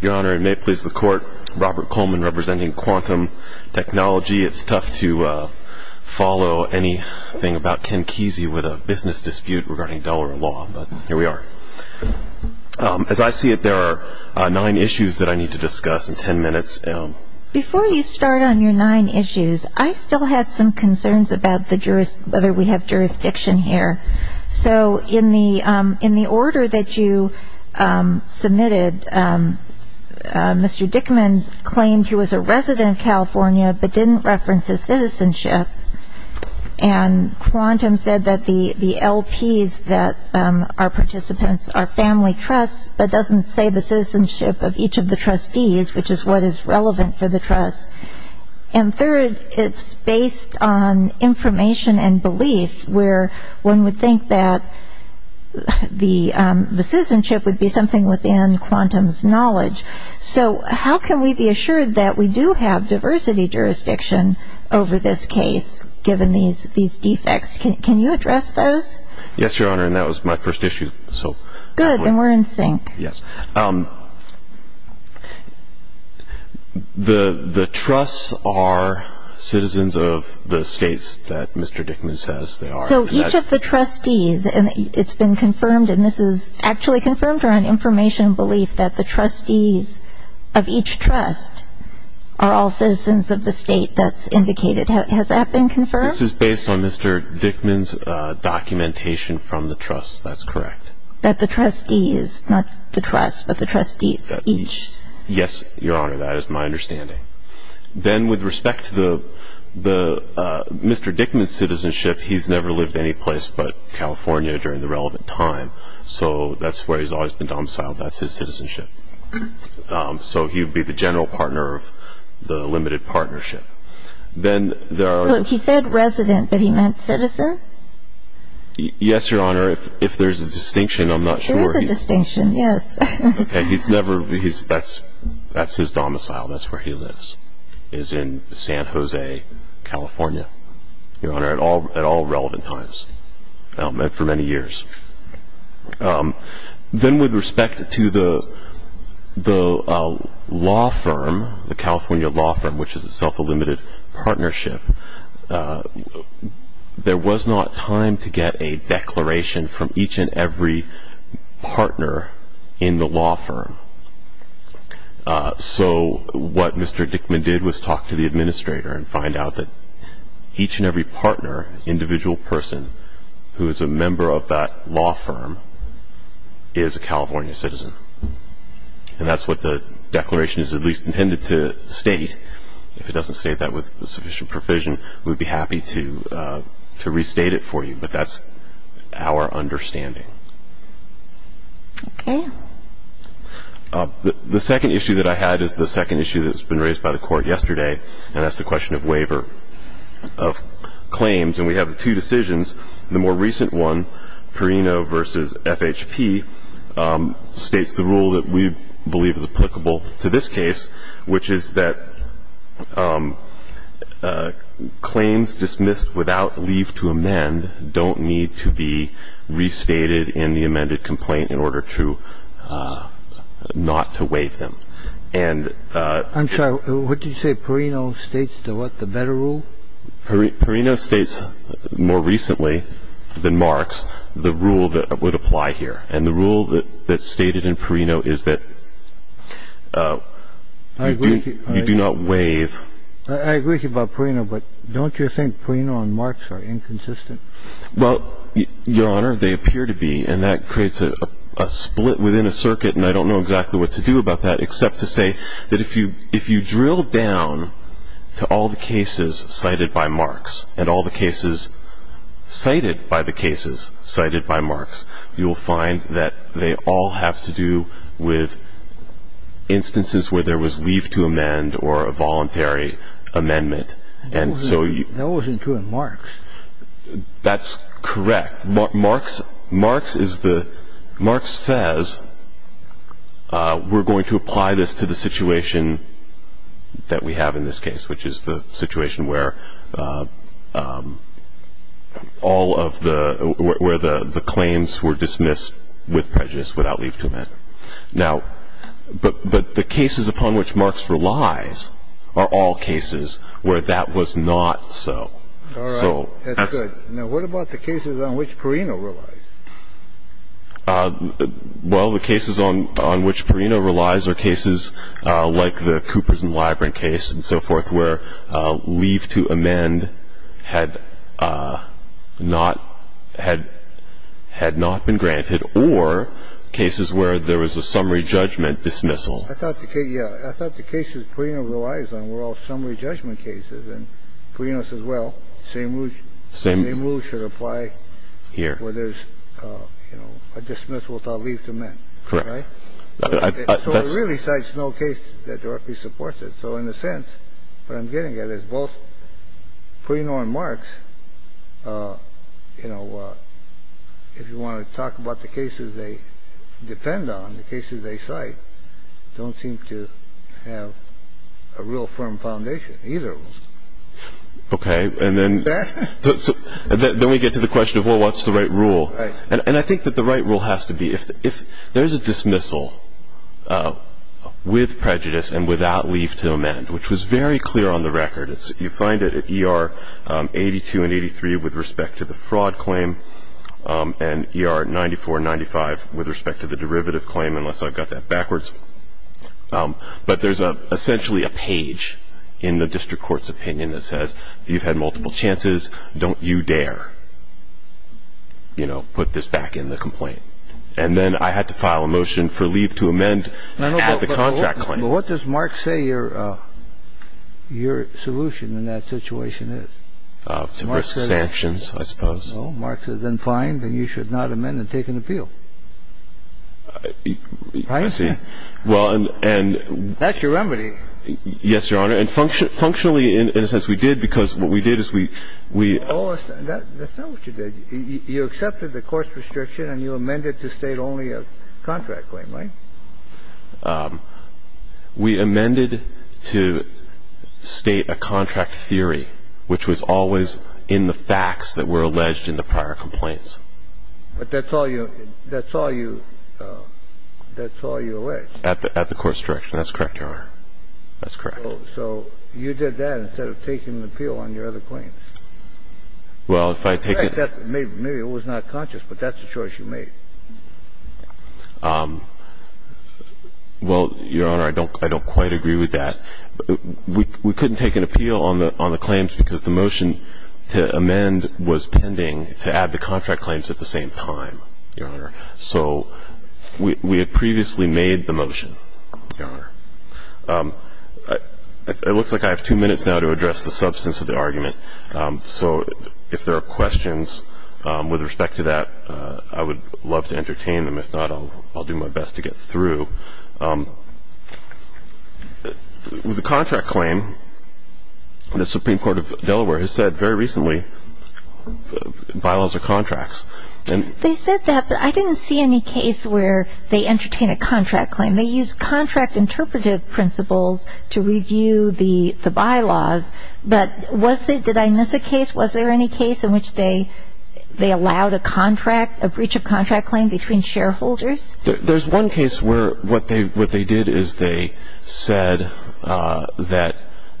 Your Honor, it may please the Court, Robert Coleman representing Quantum Technology. It's tough to follow anything about Ken Kesey with a business dispute regarding dollar law, but here we are. As I see it, there are nine issues that I need to discuss in ten minutes. Before you start on your nine issues, I still had some concerns about whether we have jurisdiction here. So in the order that you submitted, Mr. Dickman claimed he was a resident of California but didn't reference his citizenship. And Quantum said that the LPs that are participants are family trusts, but doesn't say the citizenship of each of the trustees, which is what is relevant for the trust. And third, it's based on information and belief where one would think that the citizenship would be something within Quantum's knowledge. So how can we be assured that we do have diversity jurisdiction over this case, given these defects? Can you address those? Yes, Your Honor, and that was my first issue. Good, then we're in sync. Yes. The trusts are citizens of the states that Mr. Dickman says they are. So each of the trustees, and it's been confirmed, and this is actually confirmed on information and belief that the trustees of each trust are all citizens of the state that's indicated. Has that been confirmed? This is based on Mr. Dickman's documentation from the trust. That's correct. That the trustees, not the trust, but the trustees each. Yes, Your Honor, that is my understanding. Then with respect to Mr. Dickman's citizenship, he's never lived anyplace but California during the relevant time, so that's where he's always been domiciled. That's his citizenship. So he would be the general partner of the limited partnership. He said resident, but he meant citizen? Yes, Your Honor, if there's a distinction, I'm not sure. There is a distinction, yes. Okay, he's never, that's his domicile, that's where he lives, is in San Jose, California, Your Honor, at all relevant times and for many years. Then with respect to the law firm, the California law firm, which is itself a limited partnership, there was not time to get a declaration from each and every partner in the law firm. So what Mr. Dickman did was talk to the administrator and find out that each and every partner, individual person, who is a member of that law firm, is a California citizen. And that's what the declaration is at least intended to state. If it doesn't state that with sufficient provision, we'd be happy to restate it for you, but that's our understanding. Okay. The second issue that I had is the second issue that's been raised by the Court yesterday, and that's the question of waiver of claims. And we have two decisions. The more recent one, Perino v. FHP, states the rule that we believe is applicable to this case, which is that claims dismissed without leave to amend don't need to be restated in the amended complaint in order to not to waive them. And the rule that's stated in Perino is that, I'm sorry, what did you say, Perino states the what, the better rule? Perino states more recently than Marks the rule that would apply here. And the rule that's stated in Perino is that you do not waive. I agree with you about Perino, but don't you think Perino and Marks are inconsistent? Well, Your Honor, they appear to be, and that creates a split within a circuit, and I don't know exactly what to do about that except to say that if you drill down to all the cases cited by Marks and all the cases cited by the cases cited by Marks, you'll find that they all have to do with instances where there was leave to amend or a voluntary amendment, and so you… That wasn't true in Marks. That's correct. Marks is the – Marks says we're going to apply this to the situation that we have in this case, which is the situation where all of the – where the claims were dismissed with prejudice, without leave to amend. Now, but the cases upon which Marks relies are all cases where that was not so. All right. That's good. Now, what about the cases on which Perino relies? Well, the cases on which Perino relies are cases like the Coopers and Libran case and so forth where leave to amend had not – had not been granted or cases where there was a summary judgment dismissal. I thought the case – yeah. I thought the cases Perino relies on were all summary judgment cases, and Perino says, well, same rules should apply where there's a dismissal without leave to amend. Correct. Right? So it really cites no case that directly supports it. So in a sense, what I'm getting at is both Perino and Marks, you know, if you want to talk about the cases they depend on, the cases they cite, don't seem to have a real firm foundation, either of them. Okay. And then we get to the question of, well, what's the right rule? And I think that the right rule has to be if there is a dismissal with prejudice and without leave to amend, which was very clear on the record. You find it at ER 82 and 83 with respect to the fraud claim and ER 94 and 95 with respect to the derivative claim, unless I've got that backwards. But there's essentially a page in the district court's opinion that says, you've had multiple chances, don't you dare, you know, put this back in the complaint. And then I had to file a motion for leave to amend at the contract claim. But what does Marks say your solution in that situation is? To risk sanctions, I suppose. No, Marks says, then fine, then you should not amend and take an appeal. Right? I see. That's your remedy. Yes, Your Honor. And functionally, in a sense, we did, because what we did is we ---- That's not what you did. You accepted the court's restriction and you amended to state only a contract claim, right? We amended to state a contract theory, which was always in the facts that were alleged in the prior complaints. But that's all you ---- that's all you alleged. At the court's direction. That's correct, Your Honor. That's correct. So you did that instead of taking an appeal on your other claims? Well, if I take it ---- Maybe it was not conscious, but that's the choice you made. Well, Your Honor, I don't quite agree with that. We couldn't take an appeal on the claims because the motion to amend was pending to add the contract claims at the same time, Your Honor. So we had previously made the motion, Your Honor. It looks like I have two minutes now to address the substance of the argument. So if there are questions with respect to that, I would love to entertain them. If not, I'll do my best to get through. With the contract claim, the Supreme Court of Delaware has said very recently bylaws are contracts. They said that, but I didn't see any case where they entertain a contract claim. They use contract interpretive principles to review the bylaws. But was there ---- did I miss a case? Was there any case in which they allowed a contract, a breach of contract claim between shareholders? There's one case where what they did is they said that,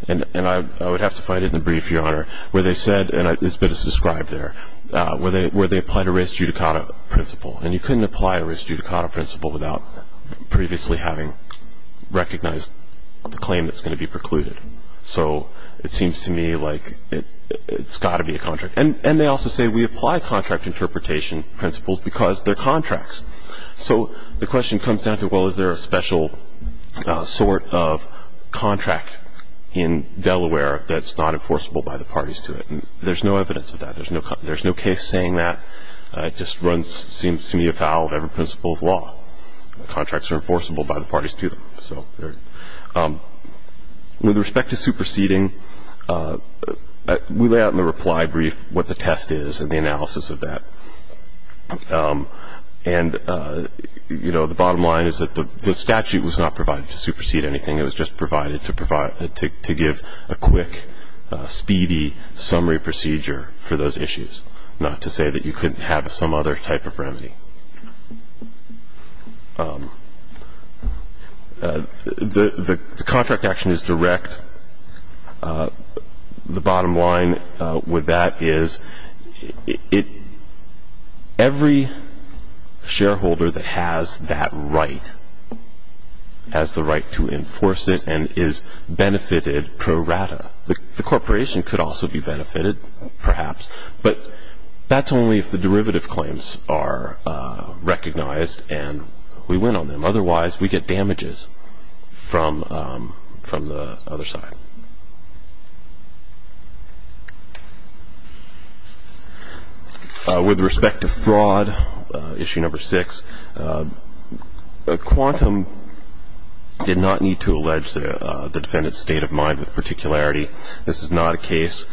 and I would have to find it in the brief, Your Honor, where they said, and it's been described there, where they applied a res judicata principle. And you couldn't apply a res judicata principle without previously having recognized the claim that's going to be precluded. So it seems to me like it's got to be a contract. And they also say we apply contract interpretation principles because they're contracts. So the question comes down to, well, is there a special sort of contract in Delaware that's not enforceable by the parties to it? And there's no evidence of that. There's no case saying that. It just seems to me a foul of every principle of law. Contracts are enforceable by the parties to them. So with respect to superseding, we lay out in the reply brief what the test is and the analysis of that. And, you know, the bottom line is that the statute was not provided to supersede anything. It was just provided to give a quick, speedy summary procedure for those issues, not to say that you couldn't have some other type of remedy. The contract action is direct. The bottom line with that is every shareholder that has that right has the right to enforce it and is benefited pro rata. The corporation could also be benefited, perhaps, but that's only if the derivative claims are recognized and we win on them. With respect to fraud, issue number six, Quantum did not need to allege the defendant's state of mind with particularity. This is not a case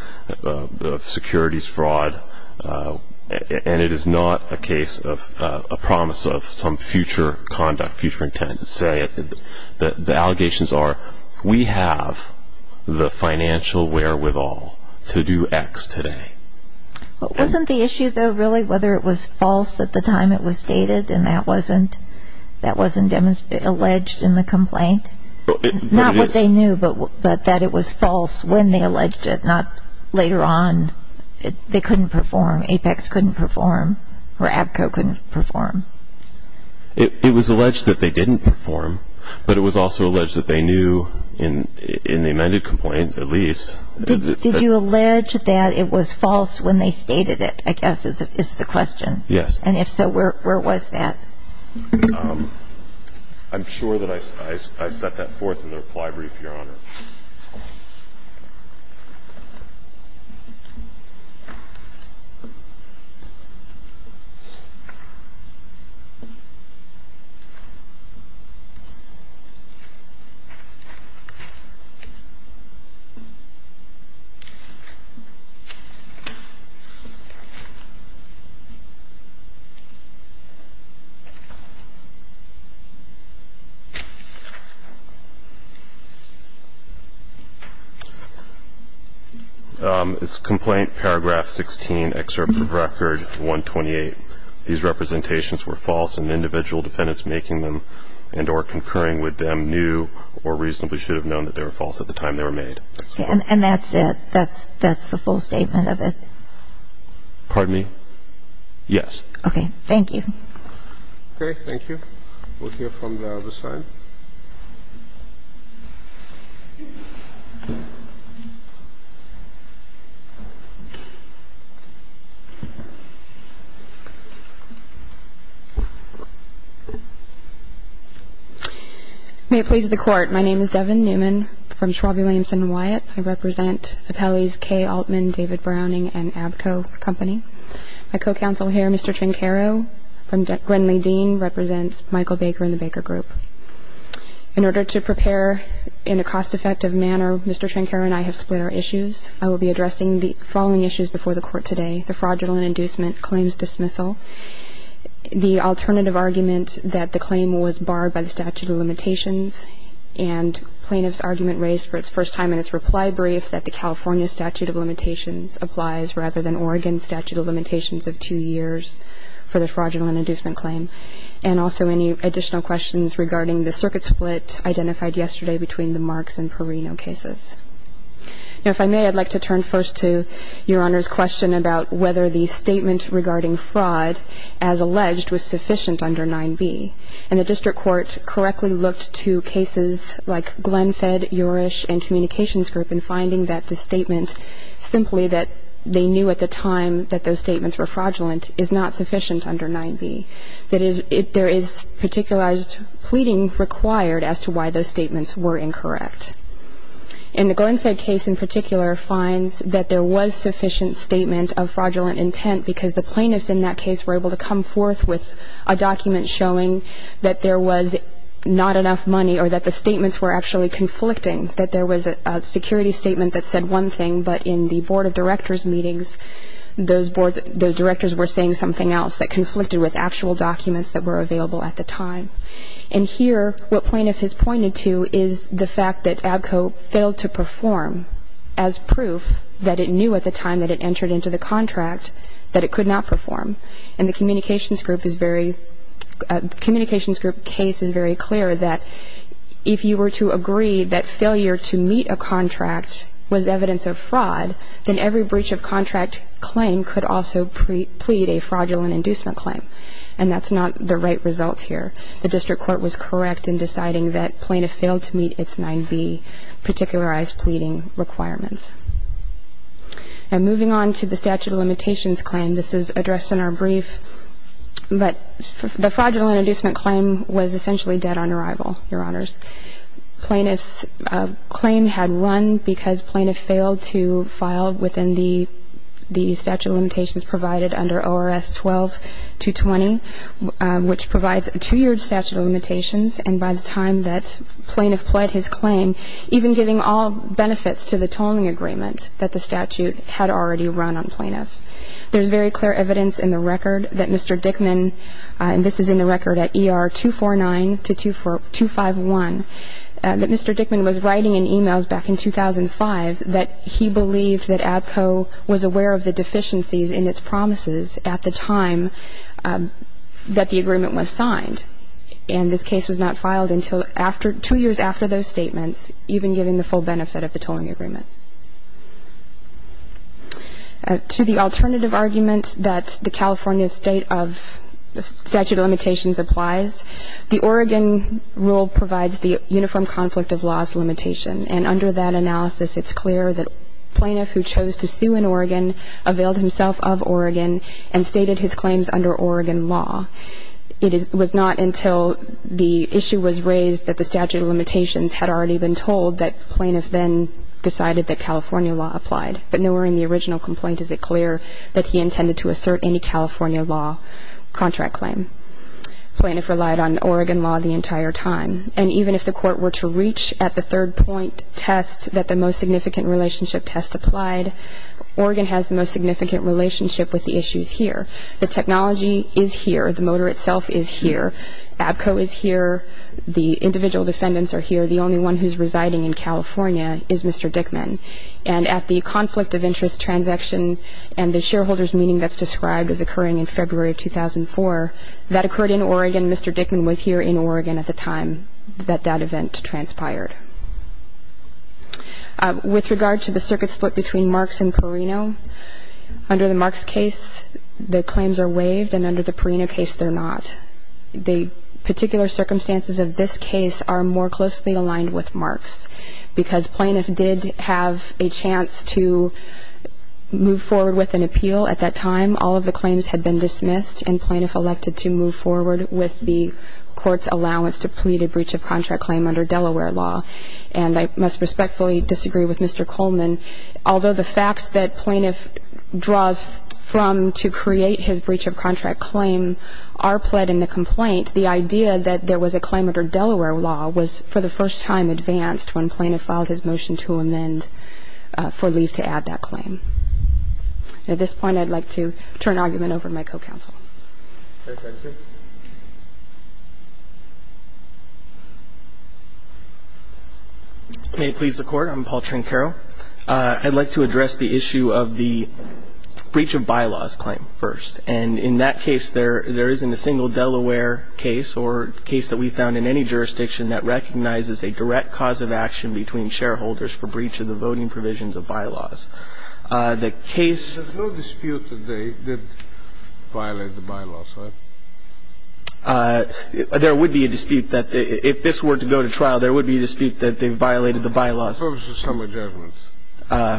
of securities fraud, and it is not a case of a promise of some future conduct, future intent. The allegations are we have the financial wherewithal to do X today. Wasn't the issue, though, really whether it was false at the time it was stated and that wasn't alleged in the complaint? Not what they knew, but that it was false when they alleged it, not later on. They couldn't perform. Apex couldn't perform, or ABCO couldn't perform. It was alleged that they didn't perform, but it was also alleged that they knew in the amended complaint, at least. Did you allege that it was false when they stated it, I guess, is the question? Yes. And if so, where was that? I'm sure that I set that forth in the reply brief, Your Honor. Thank you. It's complaint paragraph 16, excerpt from record 128. These representations were false and individual defendants making them and or concurring with them knew or reasonably should have known that they were false at the time they were made. And that's it? That's the full statement of it? Pardon me? Yes. Okay. Thank you. Okay. Thank you. We'll hear from the other side. May it please the Court. My name is Devin Newman from Schwab, Williamson & Wyatt. I represent Appellee's K. Altman, David Browning, and ABCO Company. My co-counsel here, Mr. Trencaro from Gwendolyn Dean, represents Michael Baker and the Baker Group. In order to prepare in a cost-effective manner, Mr. Trencaro and I have split our issues. I will be addressing the following issues before the Court today, the fraudulent inducement, claims dismissal, the alternative argument that the claim was barred by the statute of limitations and plaintiff's argument raised for its first time in its reply brief that the California statute of limitations applies rather than Oregon statute of limitations of two years for the fraudulent inducement claim, and also any additional questions regarding the circuit split identified yesterday between the Marks and Perino cases. Now, if I may, I'd like to turn first to Your Honor's question about whether the statement regarding fraud, as alleged, was sufficient under 9b. And the district court correctly looked to cases like Glenfed, Yorish, and Communications Group in finding that the statement, simply that they knew at the time that those statements were fraudulent, is not sufficient under 9b, that there is particularized pleading required as to why those statements were incorrect. And the Glenfed case, in particular, finds that there was sufficient statement of fraudulent intent because the plaintiffs in that case were able to come forth with a document showing that there was not enough money or that the statements were actually conflicting, that there was a security statement that said one thing, but in the Board of Directors meetings, those directors were saying something else that conflicted with actual documents that were available at the time. And here, what plaintiff has pointed to is the fact that ABCO failed to perform, as proof that it knew at the time that it entered into the contract, that it could not perform. And the Communications Group case is very clear that if you were to agree that failure to meet a contract was evidence of fraud, then every breach of contract claim could also plead a fraudulent inducement claim. And that's not the right result here. The district court was correct in deciding that plaintiff failed to meet its 9b, particularized pleading requirements. And moving on to the statute of limitations claim, this is addressed in our brief. But the fraudulent inducement claim was essentially dead on arrival, Your Honors. Plaintiff's claim had run because plaintiff failed to file within the statute of limitations provided under ORS 12-20, which provides a two-year statute of limitations. And by the time that plaintiff pled his claim, even giving all benefits to the tolling agreement that the statute had already run on plaintiff. There's very clear evidence in the record that Mr. Dickman, and this is in the record at ER 249 to 251, that Mr. Dickman was writing in e-mails back in 2005 that he believed that ADCO was aware of the deficiencies in its promises at the time that the agreement was signed. And this case was not filed until two years after those statements, even given the full benefit of the tolling agreement. To the alternative argument that the California state of statute of limitations applies, the Oregon rule provides the uniform conflict of loss limitation. And under that analysis, it's clear that plaintiff who chose to sue in Oregon availed himself of Oregon and stated his claims under Oregon law. It was not until the issue was raised that the statute of limitations had already been told that plaintiff then decided that California law applied. But nowhere in the original complaint is it clear that he intended to assert any California law contract claim. Plaintiff relied on Oregon law the entire time. And even if the court were to reach at the third point test that the most significant relationship test applied, Oregon has the most significant relationship with the issues here. The technology is here. The motor itself is here. ADCO is here. The individual defendants are here. The only one who's residing in California is Mr. Dickman. And at the conflict of interest transaction and the shareholders meeting that's described as occurring in February of 2004, that occurred in Oregon. Mr. Dickman was here in Oregon at the time that that event transpired. With regard to the circuit split between Marks and Perino, under the Marks case the claims are waived and under the Perino case they're not. The particular circumstances of this case are more closely aligned with Marks because plaintiff did have a chance to move forward with an appeal at that time. All of the claims had been dismissed and plaintiff elected to move forward with the court's allowance to plead a breach of contract claim under Delaware law. And I must respectfully disagree with Mr. Coleman. Although the facts that plaintiff draws from to create his breach of contract claim are pled in the complaint, the idea that there was a claim under Delaware law was for the first time advanced when plaintiff filed his motion to amend for leave to add that claim. At this point I'd like to turn the argument over to my co-counsel. May it please the Court. I'm Paul Trincaro. I'd like to address the issue of the breach of bylaws claim first. And in that case there isn't a single Delaware case or case that we found in any jurisdiction that recognizes a direct cause of action between shareholders for breach of the voting provisions of bylaws. The case- There's no dispute that they did violate the bylaws, right? There would be a dispute that if this were to go to trial, there would be a dispute that they violated the bylaws. For purposes of summary judgment.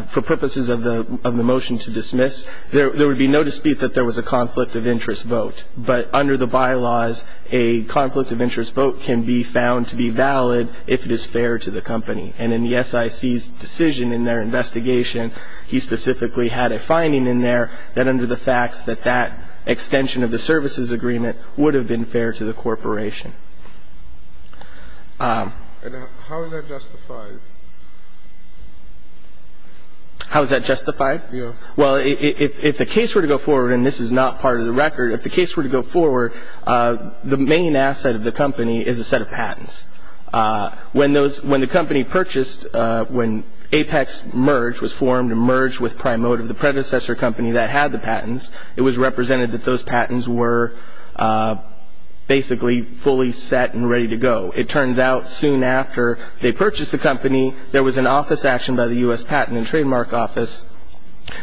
For purposes of the motion to dismiss, there would be no dispute that there was a conflict of interest vote. But under the bylaws, a conflict of interest vote can be found to be valid if it is fair to the company. And in the SIC's decision in their investigation, he specifically had a finding in there that under the facts that that extension of the services agreement would have been fair to the corporation. And how is that justified? How is that justified? Yeah. Well, if the case were to go forward, and this is not part of the record, if the case were to go forward, the main asset of the company is a set of patents. When the company purchased, when APEX merged, was formed and merged with Primotive, the predecessor company that had the patents, it was represented that those patents were basically fully set and ready to go. It turns out soon after they purchased the company, there was an office action by the U.S. Patent and Trademark Office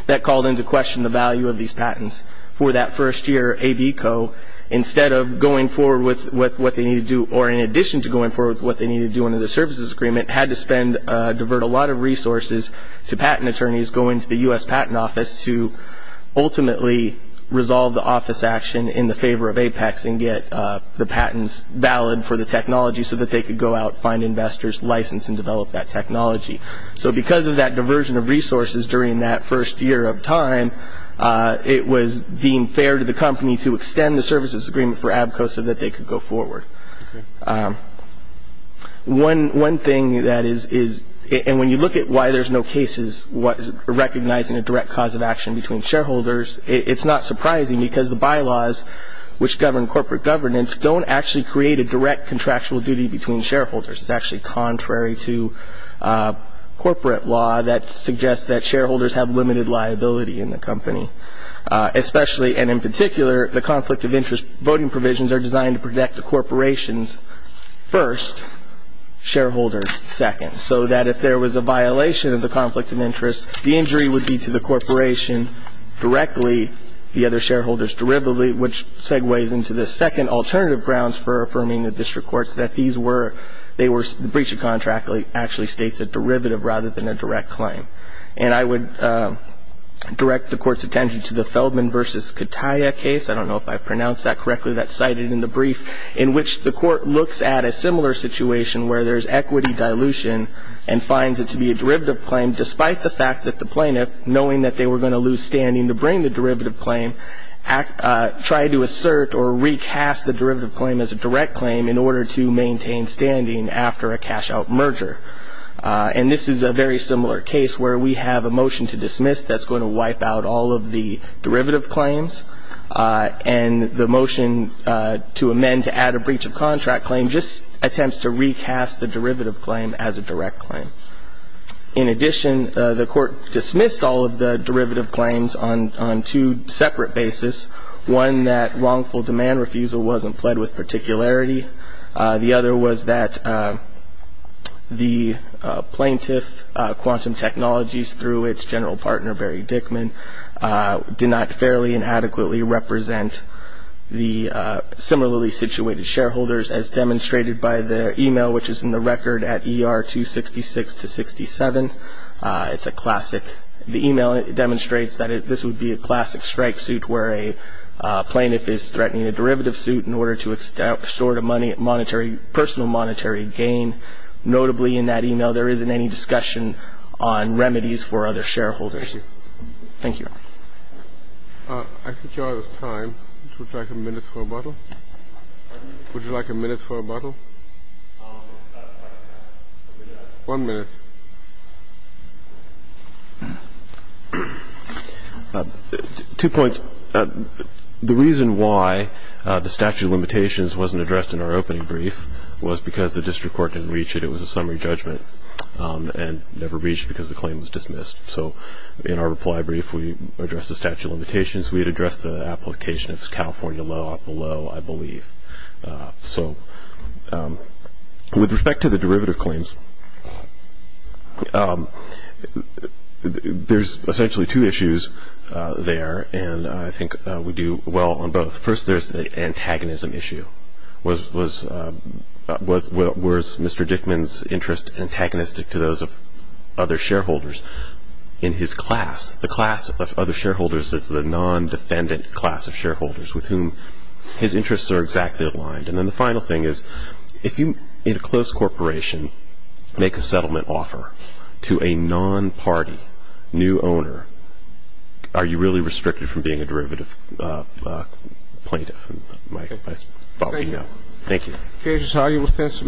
that called into question the value of these patents for that first year AB Co. Instead of going forward with what they needed to do, or in addition to going forward with what they needed to do under the services agreement, had to spend, divert a lot of resources to patent attorneys going to the U.S. Patent Office to ultimately resolve the office action in the favor of APEX and get the patents valid for the technology so that they could go out, find investors, license, and develop that technology. Because of that diversion of resources during that first year of time, it was deemed fair to the company to extend the services agreement for AB Co. so that they could go forward. One thing that is, and when you look at why there's no cases recognizing a direct cause of action between shareholders, it's not surprising because the bylaws which govern corporate governance don't actually create a direct contractual duty between shareholders. It's actually contrary to corporate law that suggests that shareholders have limited liability in the company. Especially, and in particular, the conflict of interest voting provisions are designed to protect the corporations first, shareholders second, so that if there was a violation of the conflict of interest, the injury would be to the corporation directly, the other shareholders derivatively, which segues into the second alternative grounds for affirming the district courts that these were, the breach of contract actually states a derivative rather than a direct claim. And I would direct the court's attention to the Feldman v. Kataya case, I don't know if I pronounced that correctly, that's cited in the brief, in which the court looks at a similar situation where there's equity dilution and finds it to be a derivative claim despite the fact that the plaintiff, knowing that they were going to lose standing to bring the derivative claim, tried to assert or recast the derivative claim as a direct claim in order to maintain standing after a cash-out merger. And this is a very similar case where we have a motion to dismiss that's going to wipe out all of the derivative claims, and the motion to amend to add a breach of contract claim just attempts to recast the derivative claim as a direct claim. In addition, the court dismissed all of the derivative claims on two separate bases, one that wrongful demand refusal wasn't pled with particularity, the other was that the plaintiff, Quantum Technologies, through its general partner, Barry Dickman, did not fairly and adequately represent the similarly situated shareholders, as demonstrated by the email which is in the record at ER-266-67. It's a classic. The email demonstrates that this would be a classic strike suit where a plaintiff is threatening a derivative suit in order to extort a personal monetary gain. Notably, in that email, there isn't any discussion on remedies for other shareholders. Thank you. Thank you. I think you're out of time. Would you like a minute for a bottle? Would you like a minute for a bottle? One minute. Two points. The reason why the statute of limitations wasn't addressed in our opening brief was because the district court didn't reach it. It was a summary judgment and never reached because the claim was dismissed. So in our reply brief, we addressed the statute of limitations. We had addressed the application of California law below, I believe. So with respect to the derivative claims, there's essentially two issues there, and I think we do well on both. First, there's the antagonism issue. Was Mr. Dickman's interest antagonistic to those of other shareholders in his class? The class of other shareholders is the non-defendant class of shareholders with whom his interests are exactly aligned. And then the final thing is, if you, in a close corporation, make a settlement offer to a non-party new owner, are you really restricted from being a derivative plaintiff? I thought you know. Thank you. The case is highly offensive. Mrs. Rogers.